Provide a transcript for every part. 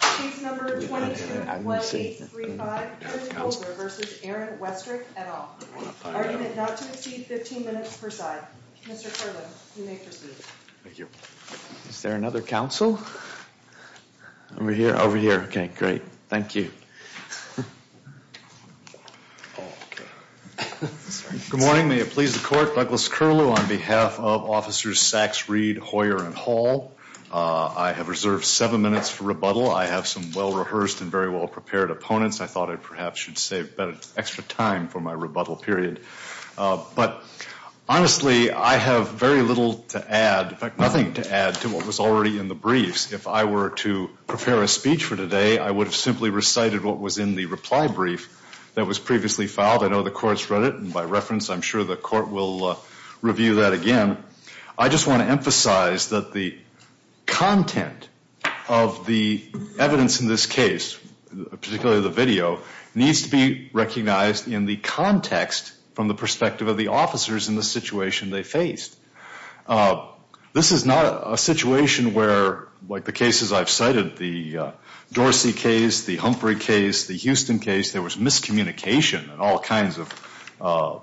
15 minutes per side. Mr. Kerlin, you may proceed. Is there another counsel? Over here, over here. Okay, great. Thank you. Good morning. May it please the court. Douglas Curlew on behalf of officers Saxe, Reed, Hoyer, and Hall. I have reserved seven minutes for rebuttal. I have some well rehearsed and very well prepared opponents. I thought it perhaps should save extra time for my rebuttal period. But honestly, I have very little to add, nothing to add to what was already in the briefs. If I were to prepare a speech for today, I would have simply recited what was in the reply brief that was previously filed. I know the court's read it. And by reference, I'm sure the court will review that again. I just want to emphasize that the content of the evidence in this case, particularly the video, needs to be recognized in the context from the perspective of the officers in the situation they faced. This is not a situation where, like the cases I've cited, the Dorsey case, the Humphrey case, the Houston case, there was miscommunication and all kinds of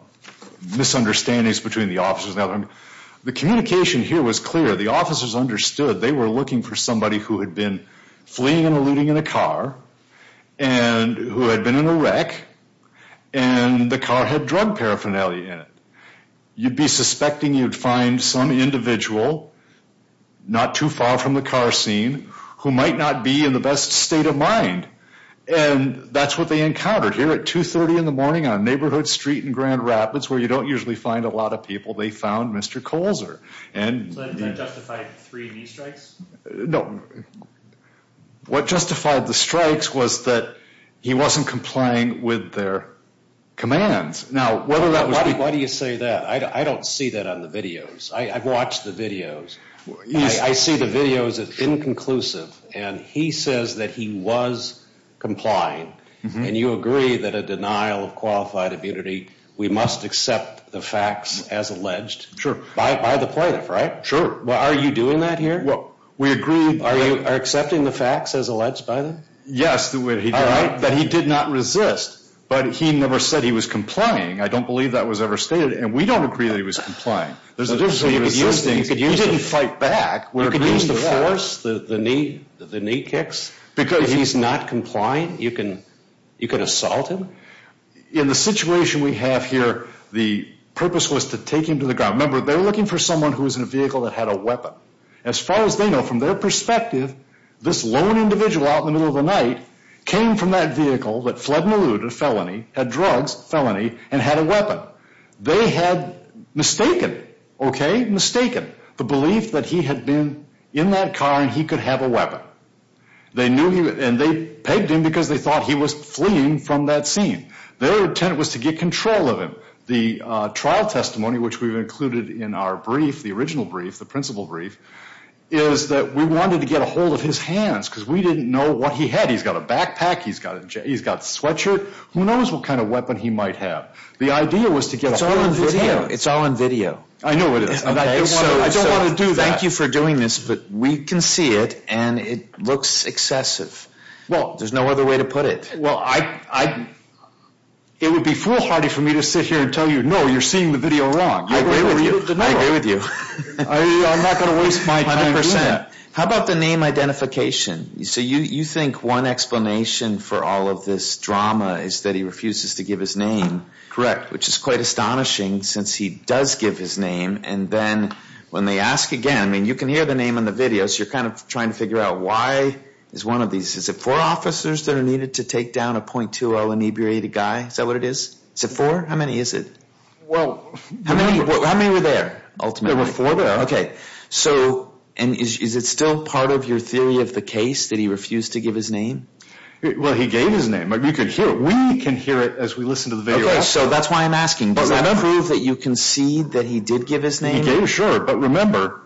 misunderstandings between the officers. The communication here was clear. The officers understood they were looking for somebody who had been fleeing and eluding in a car and who had been in a wreck and the car had drug paraphernalia in it. You'd be suspecting you'd find some individual, not too far from the car scene, who might not be in the best state of mind. And that's what they encountered here at 2.30 in the morning on Neighborhood Street in Grand Rapids, where you don't usually find a lot of people, they found Mr. Colzer. So that justified three knee strikes? No. What justified the strikes was that he wasn't complying with their commands. Why do you say that? I don't see that on the videos. I've watched the videos. I see the videos as inconclusive. And he says that he was complying. And you agree that a denial of qualified immunity, we must accept the facts as alleged by the plaintiff, right? Sure. Are you doing that here? We agree. Are you accepting the facts as alleged by them? Yes. But he did not resist. But he never said he was complying. I don't believe that was ever stated. And we don't agree that he was complying. You didn't fight back. You could use the force, the knee kicks. If he's not complying, you can assault him. In the situation we have here, the purpose was to take him to the ground. Remember, they're looking for someone who was in a vehicle that had a weapon. As far as they know, from their perspective, this lone individual out in the middle of the night came from that vehicle that fled and eluded a felony, had drugs, felony, and had a weapon. They had mistaken, okay? Mistaken. The belief that he had been in that car and he could have a weapon. And they pegged him because they thought he was fleeing from that scene. Their intent was to get control of him. The trial testimony, which we've included in our brief, the original brief, the principal brief, is that we wanted to get a hold of his hands because we didn't know what he had. He's got a backpack. He's got a sweatshirt. Who knows what kind of weapon he might have? The idea was to get a hold of his hands. It's all on video. I know it is. I don't want to do that. Thank you for doing this, but we can see it, and it looks excessive. There's no other way to put it. It would be foolhardy for me to sit here and tell you, no, you're seeing the video wrong. I agree with you. I'm not going to waste my time doing that. How about the name identification? So you think one explanation for all of this drama is that he refuses to give his name. Correct. Which is quite astonishing since he does give his name, and then when they ask again, I mean, you can hear the name on the videos. You're kind of trying to figure out why is one of these. Is it four officers that are needed to take down a .20 inebriated guy? Is that what it is? Is it four? How many is it? How many were there ultimately? There were four there. So is it still part of your theory of the case that he refused to give his name? Well, he gave his name. You can hear it. We can hear it as we listen to the video. Okay, so that's why I'm asking. Does that prove that you concede that he did give his name? He gave his name, sure. But remember,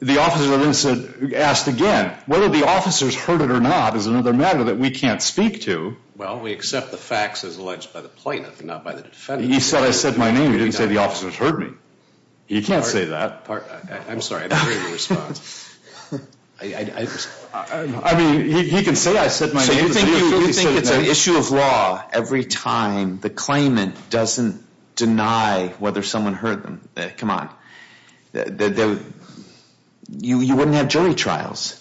the officer then asked again, whether the officers heard it or not is another matter that we can't speak to. Well, we accept the facts as alleged by the plaintiff, not by the defendant. He said I said my name. He didn't say the officers heard me. He can't say that. I'm sorry. I didn't hear your response. I mean, he can say I said my name. So you think it's an issue of law every time the claimant doesn't deny whether someone heard them? Come on. You wouldn't have jury trials.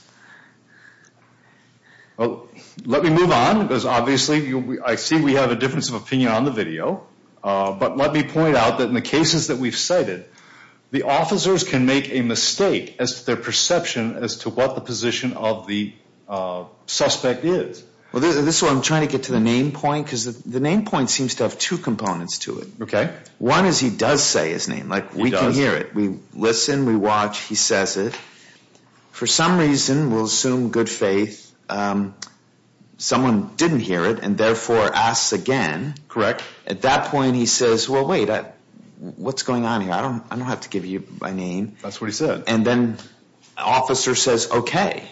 Well, let me move on, because obviously I see we have a difference of opinion on the video. But let me point out that in the cases that we've cited, the officers can make a mistake as to their perception as to what the position of the suspect is. Well, this is why I'm trying to get to the name point, because the name point seems to have two components to it. Okay. One is he does say his name. Like, we can hear it. We listen. We watch. He says it. For some reason, we'll assume good faith, someone didn't hear it and therefore asks again. Correct. At that point, he says, well, wait, what's going on here? I don't have to give you my name. That's what he said. And then the officer says, okay.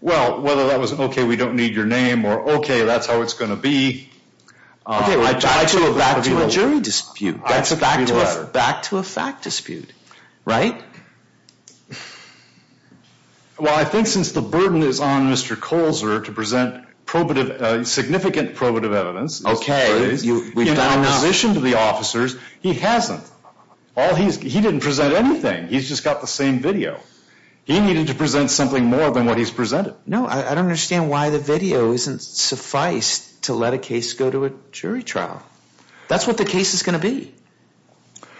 Well, whether that was okay, we don't need your name, or okay, that's how it's going to be. Back to a jury dispute. Back to a fact dispute. Right? Well, I think since the burden is on Mr. Colzer to present significant probative evidence, in opposition to the officers, he hasn't. He didn't present anything. He's just got the same video. He needed to present something more than what he's presented. No, I don't understand why the video isn't suffice to let a case go to a jury trial. That's what the case is going to be.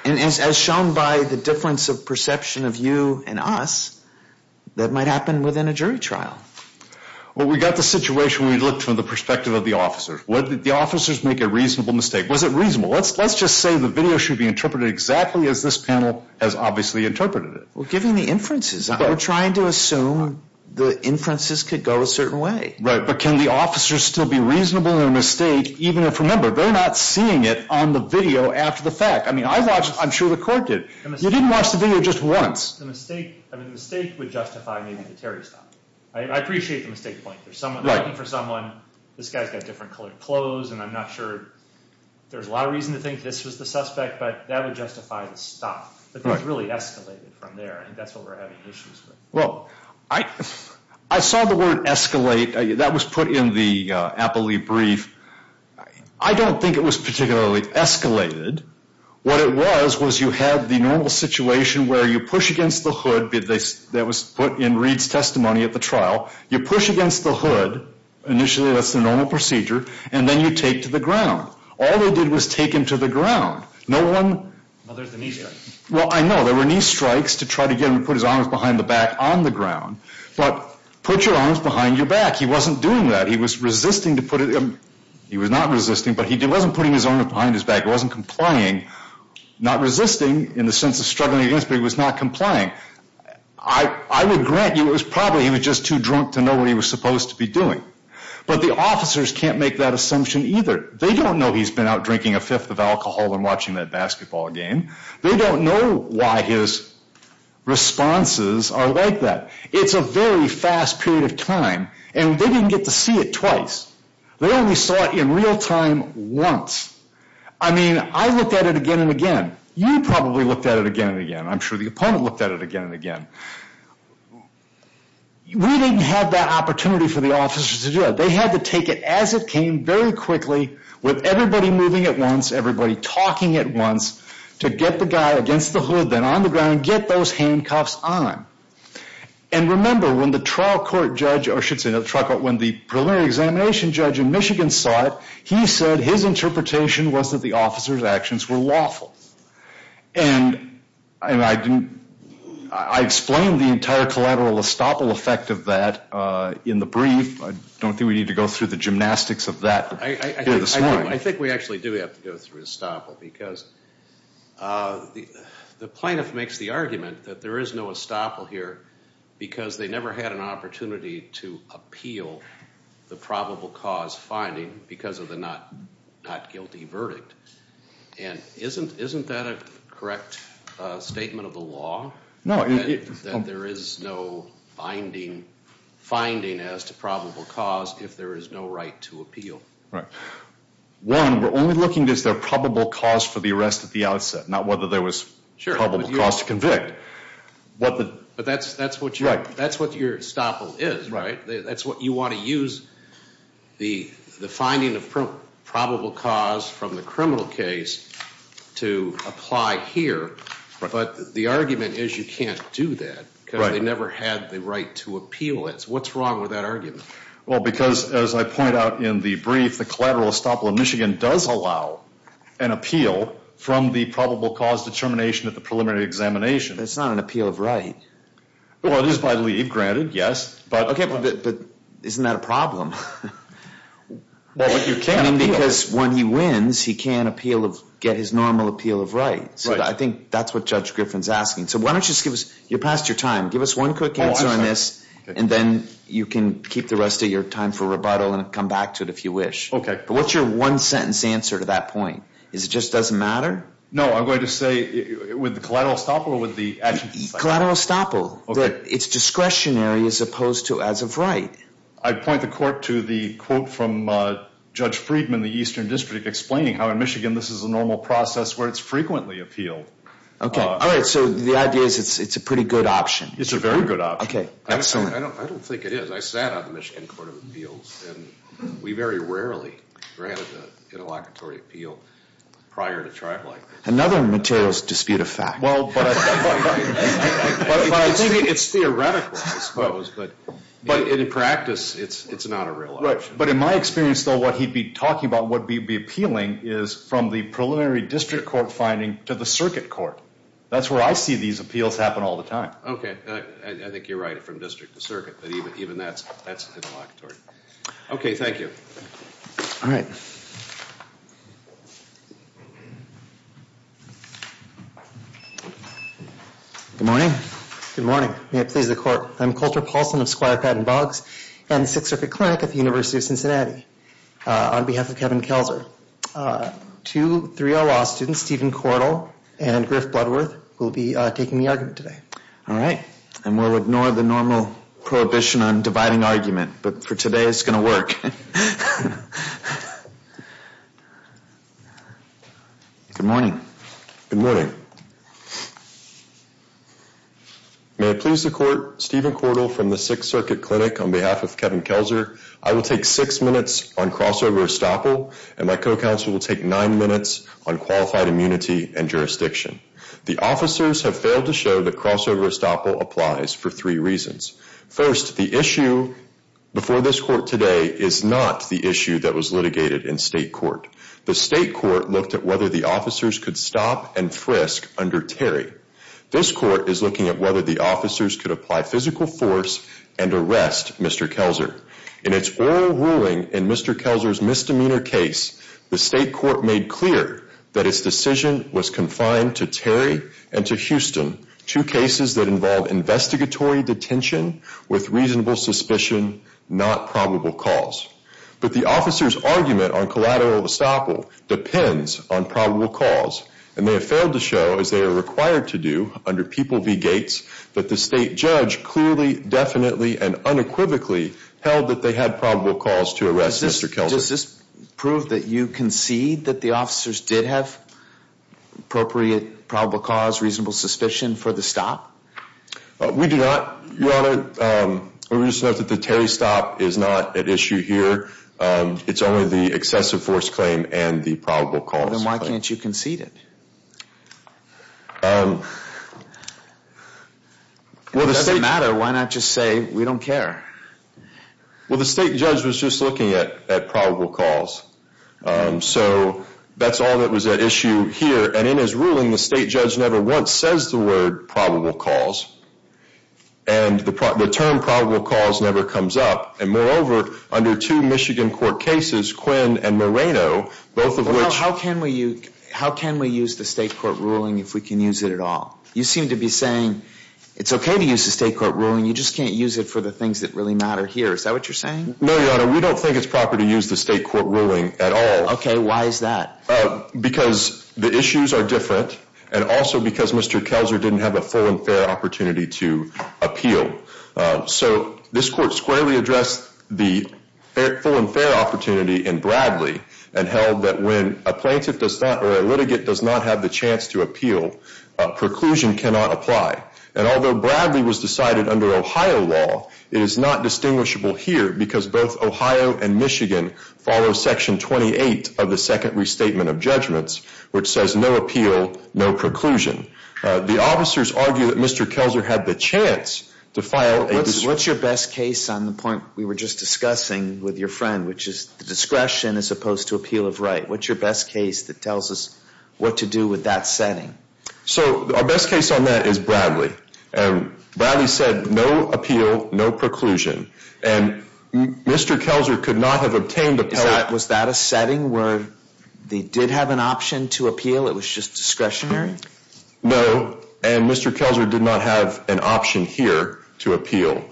And as shown by the difference of perception of you and us, that might happen within a jury trial. Well, we got the situation when we looked from the perspective of the officers. The officers make a reasonable mistake. Was it reasonable? Let's just say the video should be interpreted exactly as this panel has obviously interpreted it. Well, given the inferences. We're trying to assume the inferences could go a certain way. Right, but can the officers still be reasonable in their mistake, even if, remember, they're not seeing it on the video after the fact. I mean, I watched it. I'm sure the court did. You didn't watch the video just once. The mistake would justify maybe the Terry stop. I appreciate the mistake point. They're looking for someone. This guy's got different colored clothes, and I'm not sure. There's a lot of reason to think this was the suspect, but that would justify the stop. It was really escalated from there, and that's what we're having issues with. Well, I saw the word escalate. That was put in the Appley brief. I don't think it was particularly escalated. What it was was you had the normal situation where you push against the hood. That was put in Reed's testimony at the trial. You push against the hood. Initially, that's the normal procedure, and then you take to the ground. All they did was take him to the ground. Well, there's the knee strike. Well, I know. There were knee strikes to try to get him to put his arms behind the back on the ground, but put your arms behind your back. He wasn't doing that. He was resisting to put it. He was not resisting, but he wasn't putting his arms behind his back. He wasn't complying. Not resisting in the sense of struggling against, but he was not complying. I would grant you it was probably he was just too drunk to know what he was supposed to be doing, but the officers can't make that assumption either. They don't know he's been out drinking a fifth of alcohol and watching that basketball game. They don't know why his responses are like that. It's a very fast period of time, and they didn't get to see it twice. They only saw it in real time once. I mean, I looked at it again and again. You probably looked at it again and again. I'm sure the opponent looked at it again and again. We didn't have that opportunity for the officers to do that. They had to take it as it came, very quickly, with everybody moving at once, everybody talking at once, to get the guy against the hood, then on the ground, get those handcuffs on. And remember, when the trial court judge, or I should say, when the preliminary examination judge in Michigan saw it, he said his interpretation was that the officers' actions were lawful. And I explained the entire collateral estoppel effect of that in the brief. I don't think we need to go through the gymnastics of that. I think we actually do have to go through estoppel, because the plaintiff makes the argument that there is no estoppel here because they never had an opportunity to appeal the probable cause finding because of the not guilty verdict. And isn't that a correct statement of the law? That there is no finding as to probable cause if there is no right to appeal. One, we're only looking, is there probable cause for the arrest at the outset, not whether there was probable cause to convict. But that's what your estoppel is, right? That's what you want to use the finding of probable cause from the criminal case to apply here. But the argument is you can't do that because they never had the right to appeal it. What's wrong with that argument? Well, because as I point out in the brief, the collateral estoppel in Michigan does allow an appeal from the probable cause determination at the preliminary examination. But it's not an appeal of right. Well, it is by leave granted, yes. Okay, but isn't that a problem? Well, you can appeal. Because when he wins, he can't get his normal appeal of right. So I think that's what Judge Griffin's asking. So why don't you just give us, you're past your time. Give us one quick answer on this, and then you can keep the rest of your time for rebuttal and come back to it if you wish. Okay. But what's your one-sentence answer to that point? Is it just doesn't matter? No, I'm going to say with the collateral estoppel or with the action file? Collateral estoppel. Okay. It's discretionary as opposed to as of right. I'd point the court to the quote from Judge Friedman in the Eastern District explaining how in Michigan this is a normal process where it's frequently appealed. All right. So the idea is it's a pretty good option. It's a very good option. Okay. Excellent. I don't think it is. I sat on the Michigan Court of Appeals, and we very rarely granted an interlocutory appeal prior to trial length. Another materials dispute of fact. Well, but I think it's theoretical, I suppose. But in practice, it's not a real option. Right. But in my experience, though, what he'd be talking about, what he'd be appealing, is from the preliminary district court finding to the circuit court. That's where I see these appeals happen all the time. Okay. I think you're right, from district to circuit. But even that's interlocutory. Okay. Thank you. All right. Good morning. Good morning. May it please the Court. I'm Colter Paulson of Squire Patten Boggs and Sixth Circuit Clinic at the University of Cincinnati. On behalf of Kevin Kelzer, two 3L law students, Stephen Cordell and Griff Bloodworth, will be taking the argument today. All right. And we'll ignore the normal prohibition on dividing argument. But for today, it's going to work. Good morning. Good morning. May it please the Court. Stephen Cordell from the Sixth Circuit Clinic. On behalf of Kevin Kelzer, I will take six minutes on crossover estoppel, and my co-counsel will take nine minutes on qualified immunity and jurisdiction. The officers have failed to show that crossover estoppel applies for three reasons. First, the issue before this court today is not the issue that was litigated in state court. The state court looked at whether the officers could stop and frisk under Terry. This court is looking at whether the officers could apply physical force and arrest Mr. Kelzer. In its oral ruling in Mr. Kelzer's misdemeanor case, the state court made clear that its decision was confined to Terry and to Houston, two cases that involve investigatory detention with reasonable suspicion, not probable cause. But the officers' argument on collateral estoppel depends on probable cause, and they have failed to show, as they are required to do under People v. Gates, that the state judge clearly, definitely, and unequivocally held that they had probable cause to arrest Mr. Kelzer. Does this prove that you concede that the officers did have appropriate probable cause, reasonable suspicion for the stop? We do not, Your Honor. We just note that the Terry stop is not at issue here. It's only the excessive force claim and the probable cause claim. Then why can't you concede it? If it doesn't matter, why not just say we don't care? Well, the state judge was just looking at probable cause. So that's all that was at issue here. And in his ruling, the state judge never once says the word probable cause, and the term probable cause never comes up. And moreover, under two Michigan court cases, Quinn and Moreno, both of which Well, how can we use the state court ruling if we can use it at all? You seem to be saying it's okay to use the state court ruling, you just can't use it for the things that really matter here. Is that what you're saying? No, Your Honor, we don't think it's proper to use the state court ruling at all. Okay, why is that? Because the issues are different, and also because Mr. Kelzer didn't have a full and fair opportunity to appeal. So this court squarely addressed the full and fair opportunity in Bradley and held that when a plaintiff does not or a litigant does not have the chance to appeal, preclusion cannot apply. And although Bradley was decided under Ohio law, it is not distinguishable here because both Ohio and Michigan follow Section 28 of the Second Restatement of Judgments, which says no appeal, no preclusion. The officers argue that Mr. Kelzer had the chance to file a What's your best case on the point we were just discussing with your friend, which is discretion as opposed to appeal of right? What's your best case that tells us what to do with that setting? So our best case on that is Bradley. Bradley said no appeal, no preclusion. And Mr. Kelzer could not have obtained the Was that a setting where they did have an option to appeal? It was just discretionary? No, and Mr. Kelzer did not have an option here to appeal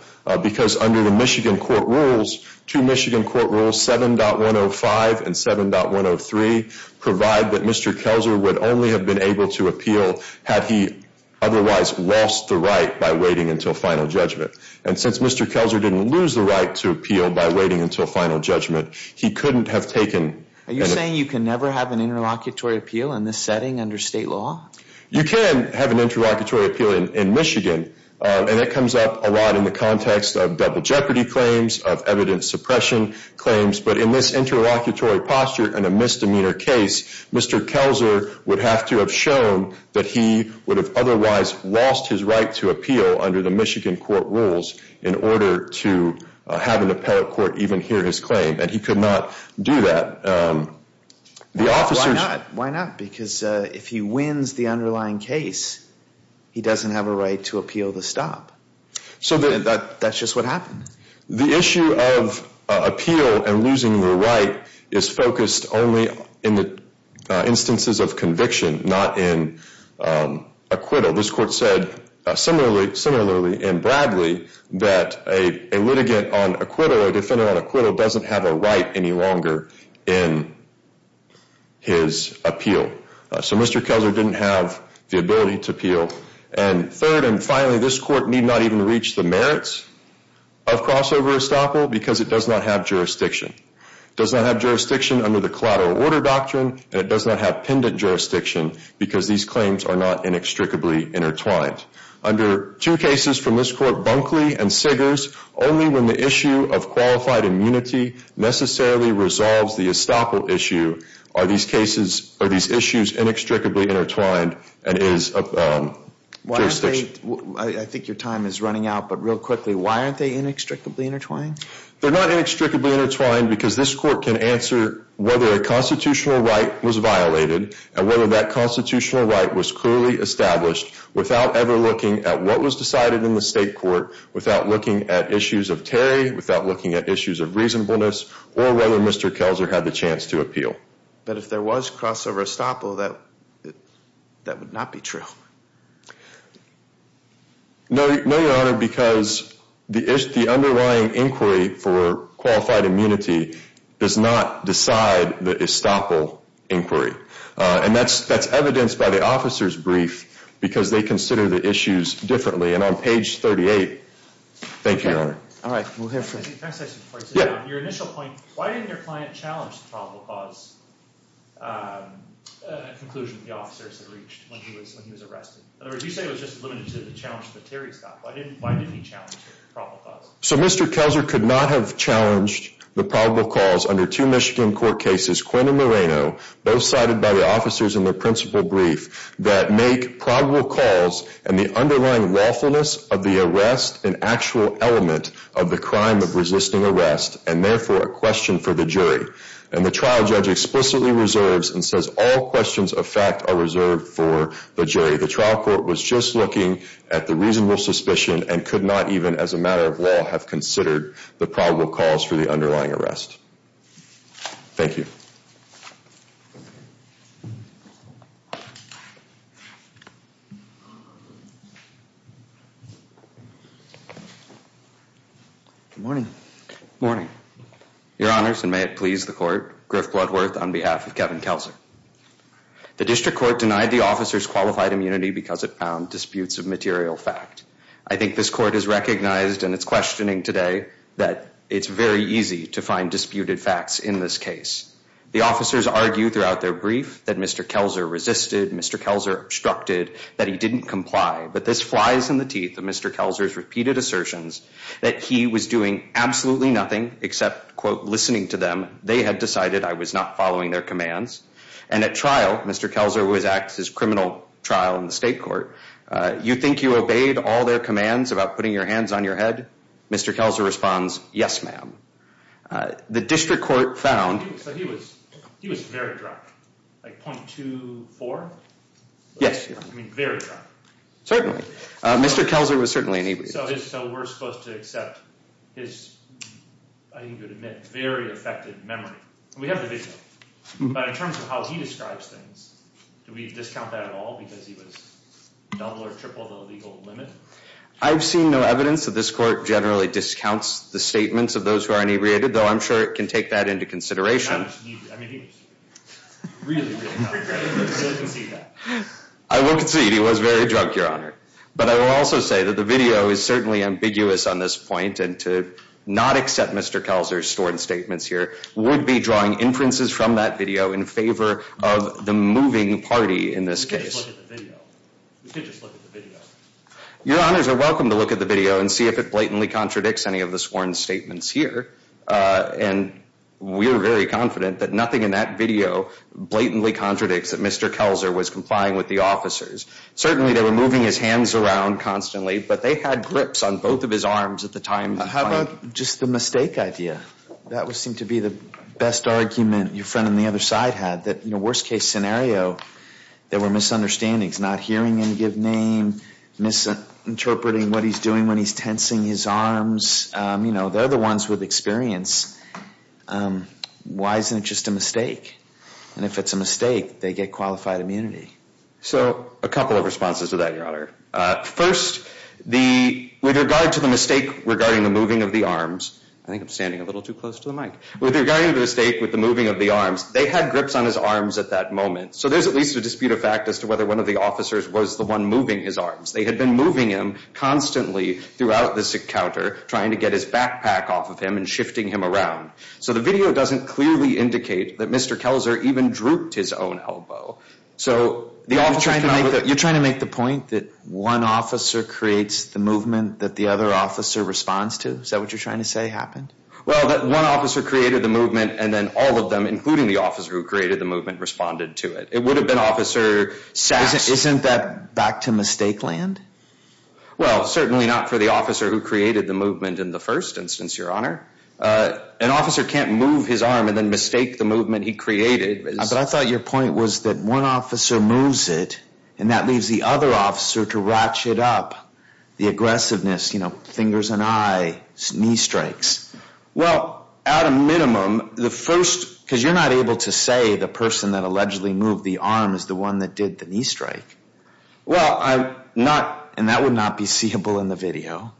because under the Michigan court rules, two Michigan court rules, 7.105 and 7.103, provide that Mr. Kelzer would only have been able to appeal had he otherwise lost the right by waiting until final judgment. And since Mr. Kelzer didn't lose the right to appeal by waiting until final judgment, he couldn't have taken Are you saying you can never have an interlocutory appeal in this setting under state law? You can have an interlocutory appeal in Michigan, and that comes up a lot in the context of double jeopardy claims, of evidence suppression claims. But in this interlocutory posture in a misdemeanor case, Mr. Kelzer would have to have shown that he would have otherwise lost his right to appeal under the Michigan court rules in order to have an appellate court even hear his claim. And he could not do that. Why not? Because if he wins the underlying case, he doesn't have a right to appeal the stop. That's just what happened. The issue of appeal and losing the right is focused only in the instances of conviction, not in acquittal. This court said similarly in Bradley that a litigant on acquittal, a defender on acquittal, doesn't have a right any longer in his appeal. So Mr. Kelzer didn't have the ability to appeal. And third and finally, this court need not even reach the merits of crossover estoppel because it does not have jurisdiction. It does not have jurisdiction under the collateral order doctrine, and it does not have pendant jurisdiction because these claims are not inextricably intertwined. Under two cases from this court, Bunkley and Siggers, only when the issue of qualified immunity necessarily resolves the estoppel issue are these issues inextricably intertwined and is jurisdiction. I think your time is running out, but real quickly, why aren't they inextricably intertwined? They're not inextricably intertwined because this court can answer whether a constitutional right was violated and whether that constitutional right was clearly established without ever looking at what was decided in the state court, without looking at issues of tarry, without looking at issues of reasonableness, or whether Mr. Kelzer had the chance to appeal. But if there was crossover estoppel, that would not be true. No, Your Honor, because the underlying inquiry for qualified immunity does not decide the estoppel inquiry. And that's evidenced by the officer's brief because they consider the issues differently. And on page 38, thank you, Your Honor. All right, we'll hear from you. Your initial point, why didn't your client challenge the probable cause conclusion the officers had reached when he was arrested? In other words, you say it was just limited to the challenge that Terry's got. Why didn't he challenge the probable cause? So Mr. Kelzer could not have challenged the probable cause under two Michigan court cases, Quinn and Moreno, both cited by the officers in their principal brief, that make probable cause and the underlying lawfulness of the arrest an actual element of the crime of resisting arrest, and therefore a question for the jury. And the trial judge explicitly reserves and says all questions of fact are reserved for the jury. The trial court was just looking at the reasonable suspicion and could not even as a matter of law have considered the probable cause for the underlying arrest. Thank you. Good morning. Good morning. Your Honors, and may it please the court, Griff Bloodworth on behalf of Kevin Kelzer. The district court denied the officers qualified immunity because it found disputes of material fact. I think this court has recognized, and it's questioning today, that it's very easy to find disputed facts in this case. The officers argue throughout their brief that Mr. Kelzer resisted, Mr. Kelzer obstructed, that he didn't comply, but this flies in the teeth of Mr. Kelzer's repeated assertions that he was doing absolutely nothing except, quote, listening to them. They had decided I was not following their commands. And at trial, Mr. Kelzer was at his criminal trial in the state court. You think you obeyed all their commands about putting your hands on your head? Mr. Kelzer responds, yes, ma'am. The district court found. So he was very drunk, like .24? Yes. I mean, very drunk. Certainly. Mr. Kelzer was certainly inebriated. So we're supposed to accept his, I think you would admit, very affected memory. We have the video. But in terms of how he describes things, do we discount that at all because he was double or triple the legal limit? I've seen no evidence that this court generally discounts the statements of those who are inebriated, though I'm sure it can take that into consideration. I mean, he was really, really drunk. I will concede that. I will concede he was very drunk, Your Honor. But I will also say that the video is certainly ambiguous on this point and to not accept Mr. Kelzer's sworn statements here would be drawing inferences from that video in favor of the moving party in this case. We could just look at the video. We could just look at the video. Your Honors are welcome to look at the video and see if it blatantly contradicts any of the sworn statements here. And we are very confident that nothing in that video blatantly contradicts that Mr. Kelzer was complying with the officers. Certainly they were moving his hands around constantly, but they had grips on both of his arms at the time. How about just the mistake idea? That would seem to be the best argument your friend on the other side had, that in a worst-case scenario there were misunderstandings, not hearing him give name, misinterpreting what he's doing when he's tensing his arms. They're the ones with experience. Why isn't it just a mistake? And if it's a mistake, they get qualified immunity. So a couple of responses to that, Your Honor. First, with regard to the mistake regarding the moving of the arms, I think I'm standing a little too close to the mic. With regard to the mistake with the moving of the arms, they had grips on his arms at that moment. So there's at least a dispute of fact as to whether one of the officers was the one moving his arms. They had been moving him constantly throughout this encounter, trying to get his backpack off of him and shifting him around. So the video doesn't clearly indicate that Mr. Kelzer even drooped his own elbow. You're trying to make the point that one officer creates the movement that the other officer responds to? Is that what you're trying to say happened? Well, that one officer created the movement, and then all of them, including the officer who created the movement, responded to it. It would have been Officer Sachs. Isn't that back to mistake land? Well, certainly not for the officer who created the movement in the first instance, Your Honor. An officer can't move his arm and then mistake the movement he created. But I thought your point was that one officer moves it, and that leaves the other officer to ratchet up the aggressiveness, you know, fingers and eye, knee strikes. Well, at a minimum, the first— Because you're not able to say the person that allegedly moved the arm is the one that did the knee strike. Well, I'm not—and that would not be seeable in the video.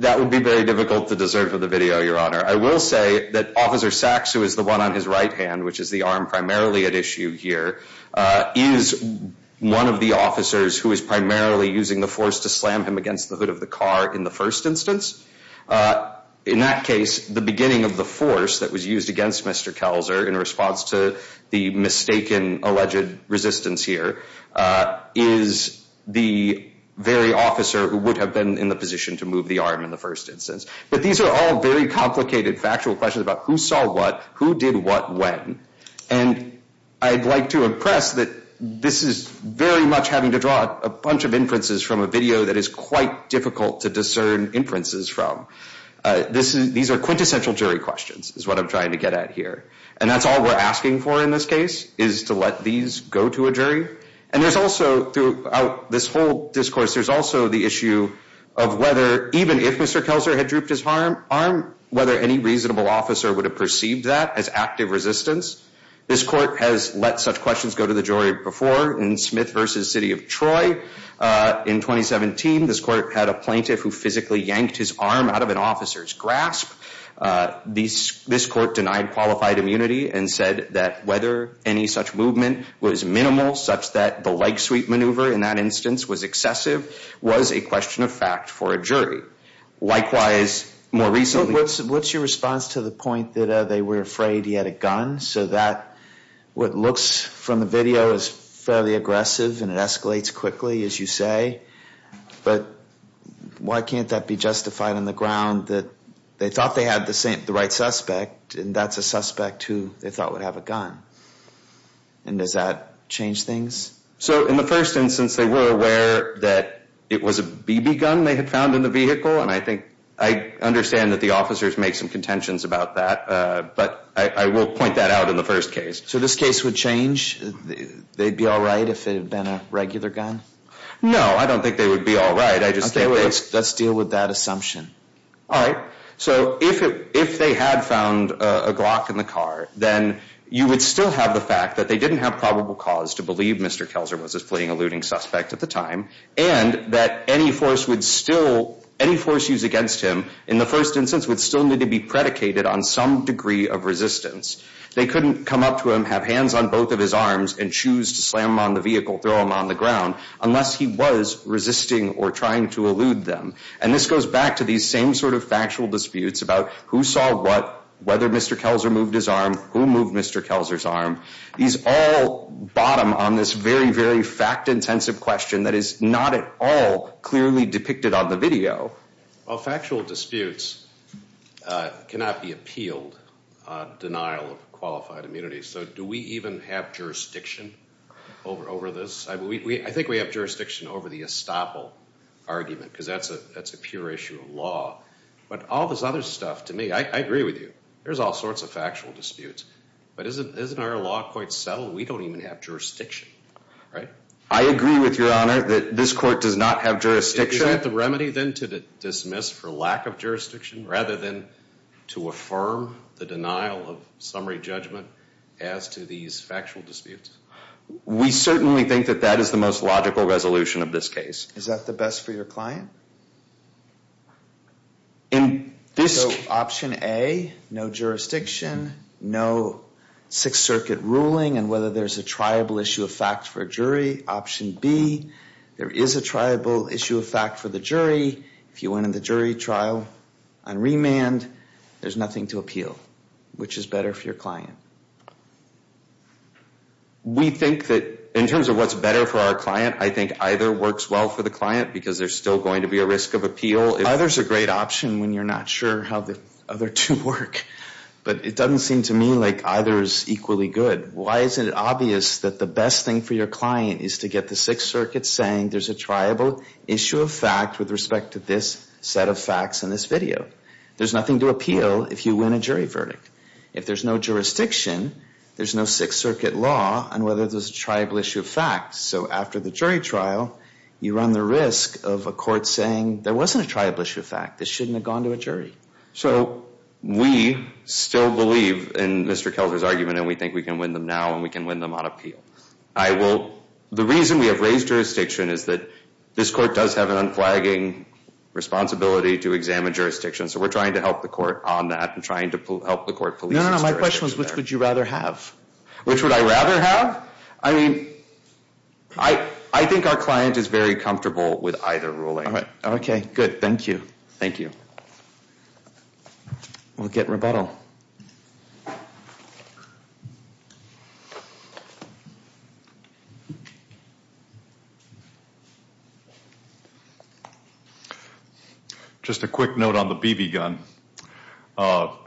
That would be very difficult to deserve for the video, Your Honor. I will say that Officer Sachs, who is the one on his right hand, which is the arm primarily at issue here, is one of the officers who is primarily using the force to slam him against the hood of the car in the first instance. In that case, the beginning of the force that was used against Mr. Kelzer in response to the mistaken alleged resistance here is the very officer who would have been in the position to move the arm in the first instance. But these are all very complicated factual questions about who saw what, who did what, when. And I'd like to impress that this is very much having to draw a bunch of inferences from a video that is quite difficult to discern inferences from. These are quintessential jury questions is what I'm trying to get at here. And that's all we're asking for in this case is to let these go to a jury. And there's also, throughout this whole discourse, there's also the issue of whether, even if Mr. Kelzer had drooped his arm, whether any reasonable officer would have perceived that as active resistance. This court has let such questions go to the jury before in Smith v. City of Troy in 2017. This court had a plaintiff who physically yanked his arm out of an officer's grasp. This court denied qualified immunity and said that whether any such movement was minimal, such that the leg sweep maneuver in that instance was excessive, was a question of fact for a jury. Likewise, more recently... So what's your response to the point that they were afraid he had a gun, so that what looks from the video is fairly aggressive and it escalates quickly, as you say, but why can't that be justified on the ground that they thought they had the right suspect and that's a suspect who they thought would have a gun? And does that change things? So in the first instance, they were aware that it was a BB gun they had found in the vehicle, and I think I understand that the officers make some contentions about that, but I will point that out in the first case. So this case would change? They'd be all right if it had been a regular gun? No, I don't think they would be all right. Let's deal with that assumption. All right. So if they had found a Glock in the car, then you would still have the fact that they didn't have probable cause to believe Mr. Kelzer was a fleeing, eluding suspect at the time, and that any force used against him in the first instance would still need to be predicated on some degree of resistance. They couldn't come up to him, have hands on both of his arms, and choose to slam him on the vehicle, throw him on the ground, unless he was resisting or trying to elude them. And this goes back to these same sort of factual disputes about who saw what, whether Mr. Kelzer moved his arm, who moved Mr. Kelzer's arm. These all bottom on this very, very fact-intensive question that is not at all clearly depicted on the video. Well, factual disputes cannot be appealed, denial of qualified immunity. So do we even have jurisdiction over this? I think we have jurisdiction over the estoppel argument, because that's a pure issue of law. But all this other stuff, to me, I agree with you. There's all sorts of factual disputes. But isn't our law quite subtle? We don't even have jurisdiction, right? I agree with Your Honor that this court does not have jurisdiction. Is that the remedy, then, to dismiss for lack of jurisdiction rather than to affirm the denial of summary judgment as to these factual disputes? We certainly think that that is the most logical resolution of this case. Is that the best for your client? So option A, no jurisdiction, no Sixth Circuit ruling, and whether there's a triable issue of fact for a jury. Option B, there is a triable issue of fact for the jury. If you went in the jury trial on remand, there's nothing to appeal. Which is better for your client? We think that in terms of what's better for our client, I think either works well for the client, because there's still going to be a risk of appeal. Either is a great option when you're not sure how the other two work. But it doesn't seem to me like either is equally good. Why isn't it obvious that the best thing for your client is to get the Sixth Circuit saying there's a triable issue of fact with respect to this set of facts in this video? There's nothing to appeal if you win a jury verdict. If there's no jurisdiction, there's no Sixth Circuit law on whether there's a triable issue of fact. So after the jury trial, you run the risk of a court saying there wasn't a triable issue of fact. This shouldn't have gone to a jury. So we still believe in Mr. Kelter's argument, and we think we can win them now, and we can win them on appeal. The reason we have raised jurisdiction is that this court does have an unflagging responsibility to examine jurisdiction, so we're trying to help the court on that and trying to help the court police its direction. No, no, no. My question was, which would you rather have? Which would I rather have? I mean, I think our client is very comfortable with either ruling. Okay, good. Thank you. Thank you. We'll get rebuttal. Just a quick note on the BB gun.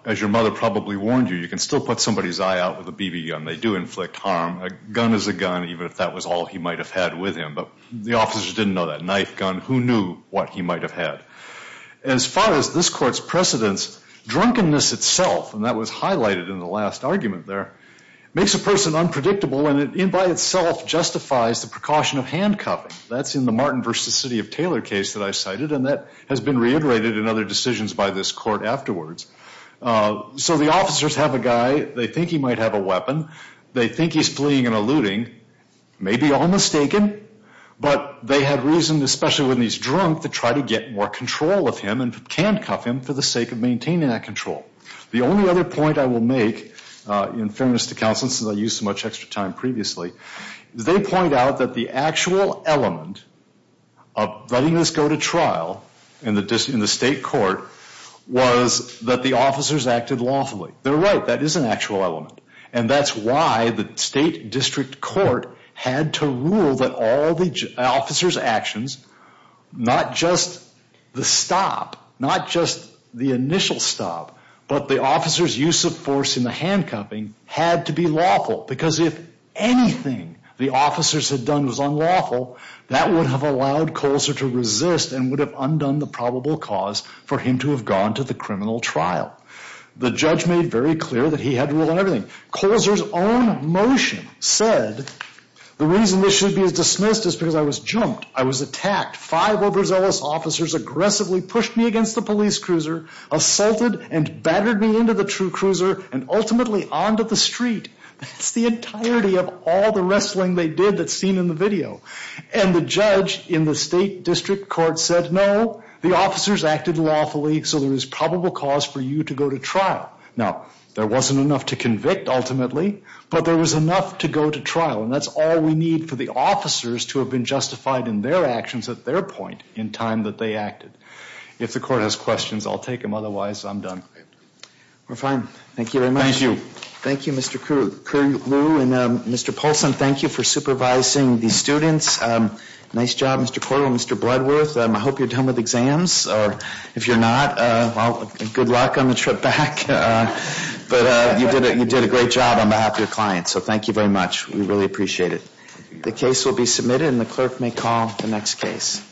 As your mother probably warned you, you can still put somebody's eye out with a BB gun. They do inflict harm. A gun is a gun, even if that was all he might have had with him. But the officers didn't know that knife gun. Who knew what he might have had? As far as this court's precedents, drunkenness itself, and that was highlighted in the last argument there, makes a person unpredictable, and it by itself justifies the precaution of handcuffing. That's in the Martin v. City of Taylor case that I cited, and that has been reiterated in other decisions by this court afterwards. So the officers have a guy. They think he might have a weapon. They think he's fleeing and eluding. Maybe all mistaken, but they had reason, especially when he's drunk, to try to get more control of him and handcuff him for the sake of maintaining that control. The only other point I will make, in fairness to counsel, since I used so much extra time previously, is they point out that the actual element of letting this go to trial in the state court was that the officers acted lawfully. They're right. That is an actual element. And that's why the state district court had to rule that all the officers' actions, not just the stop, not just the initial stop, but the officers' use of force in the handcuffing had to be lawful because if anything the officers had done was unlawful, that would have allowed Colzer to resist and would have undone the probable cause for him to have gone to the criminal trial. The judge made very clear that he had to rule on everything. Colzer's own motion said, the reason this should be dismissed is because I was jumped, I was attacked. Five overzealous officers aggressively pushed me against the police cruiser, assaulted and battered me into the true cruiser, and ultimately onto the street. That's the entirety of all the wrestling they did that's seen in the video. And the judge in the state district court said, no, the officers acted lawfully, so there is probable cause for you to go to trial. Now, there wasn't enough to convict ultimately, but there was enough to go to trial, and that's all we need for the officers to have been justified in their actions at their point in time that they acted. If the court has questions, I'll take them. Otherwise, I'm done. We're fine. Thank you very much. Thank you, Mr. Curlew. And Mr. Polson, thank you for supervising the students. Nice job, Mr. Porter and Mr. Bloodworth. I hope you're done with exams. If you're not, good luck on the trip back. But you did a great job on behalf of your clients, so thank you very much. We really appreciate it. The case will be submitted, and the clerk may call the next case.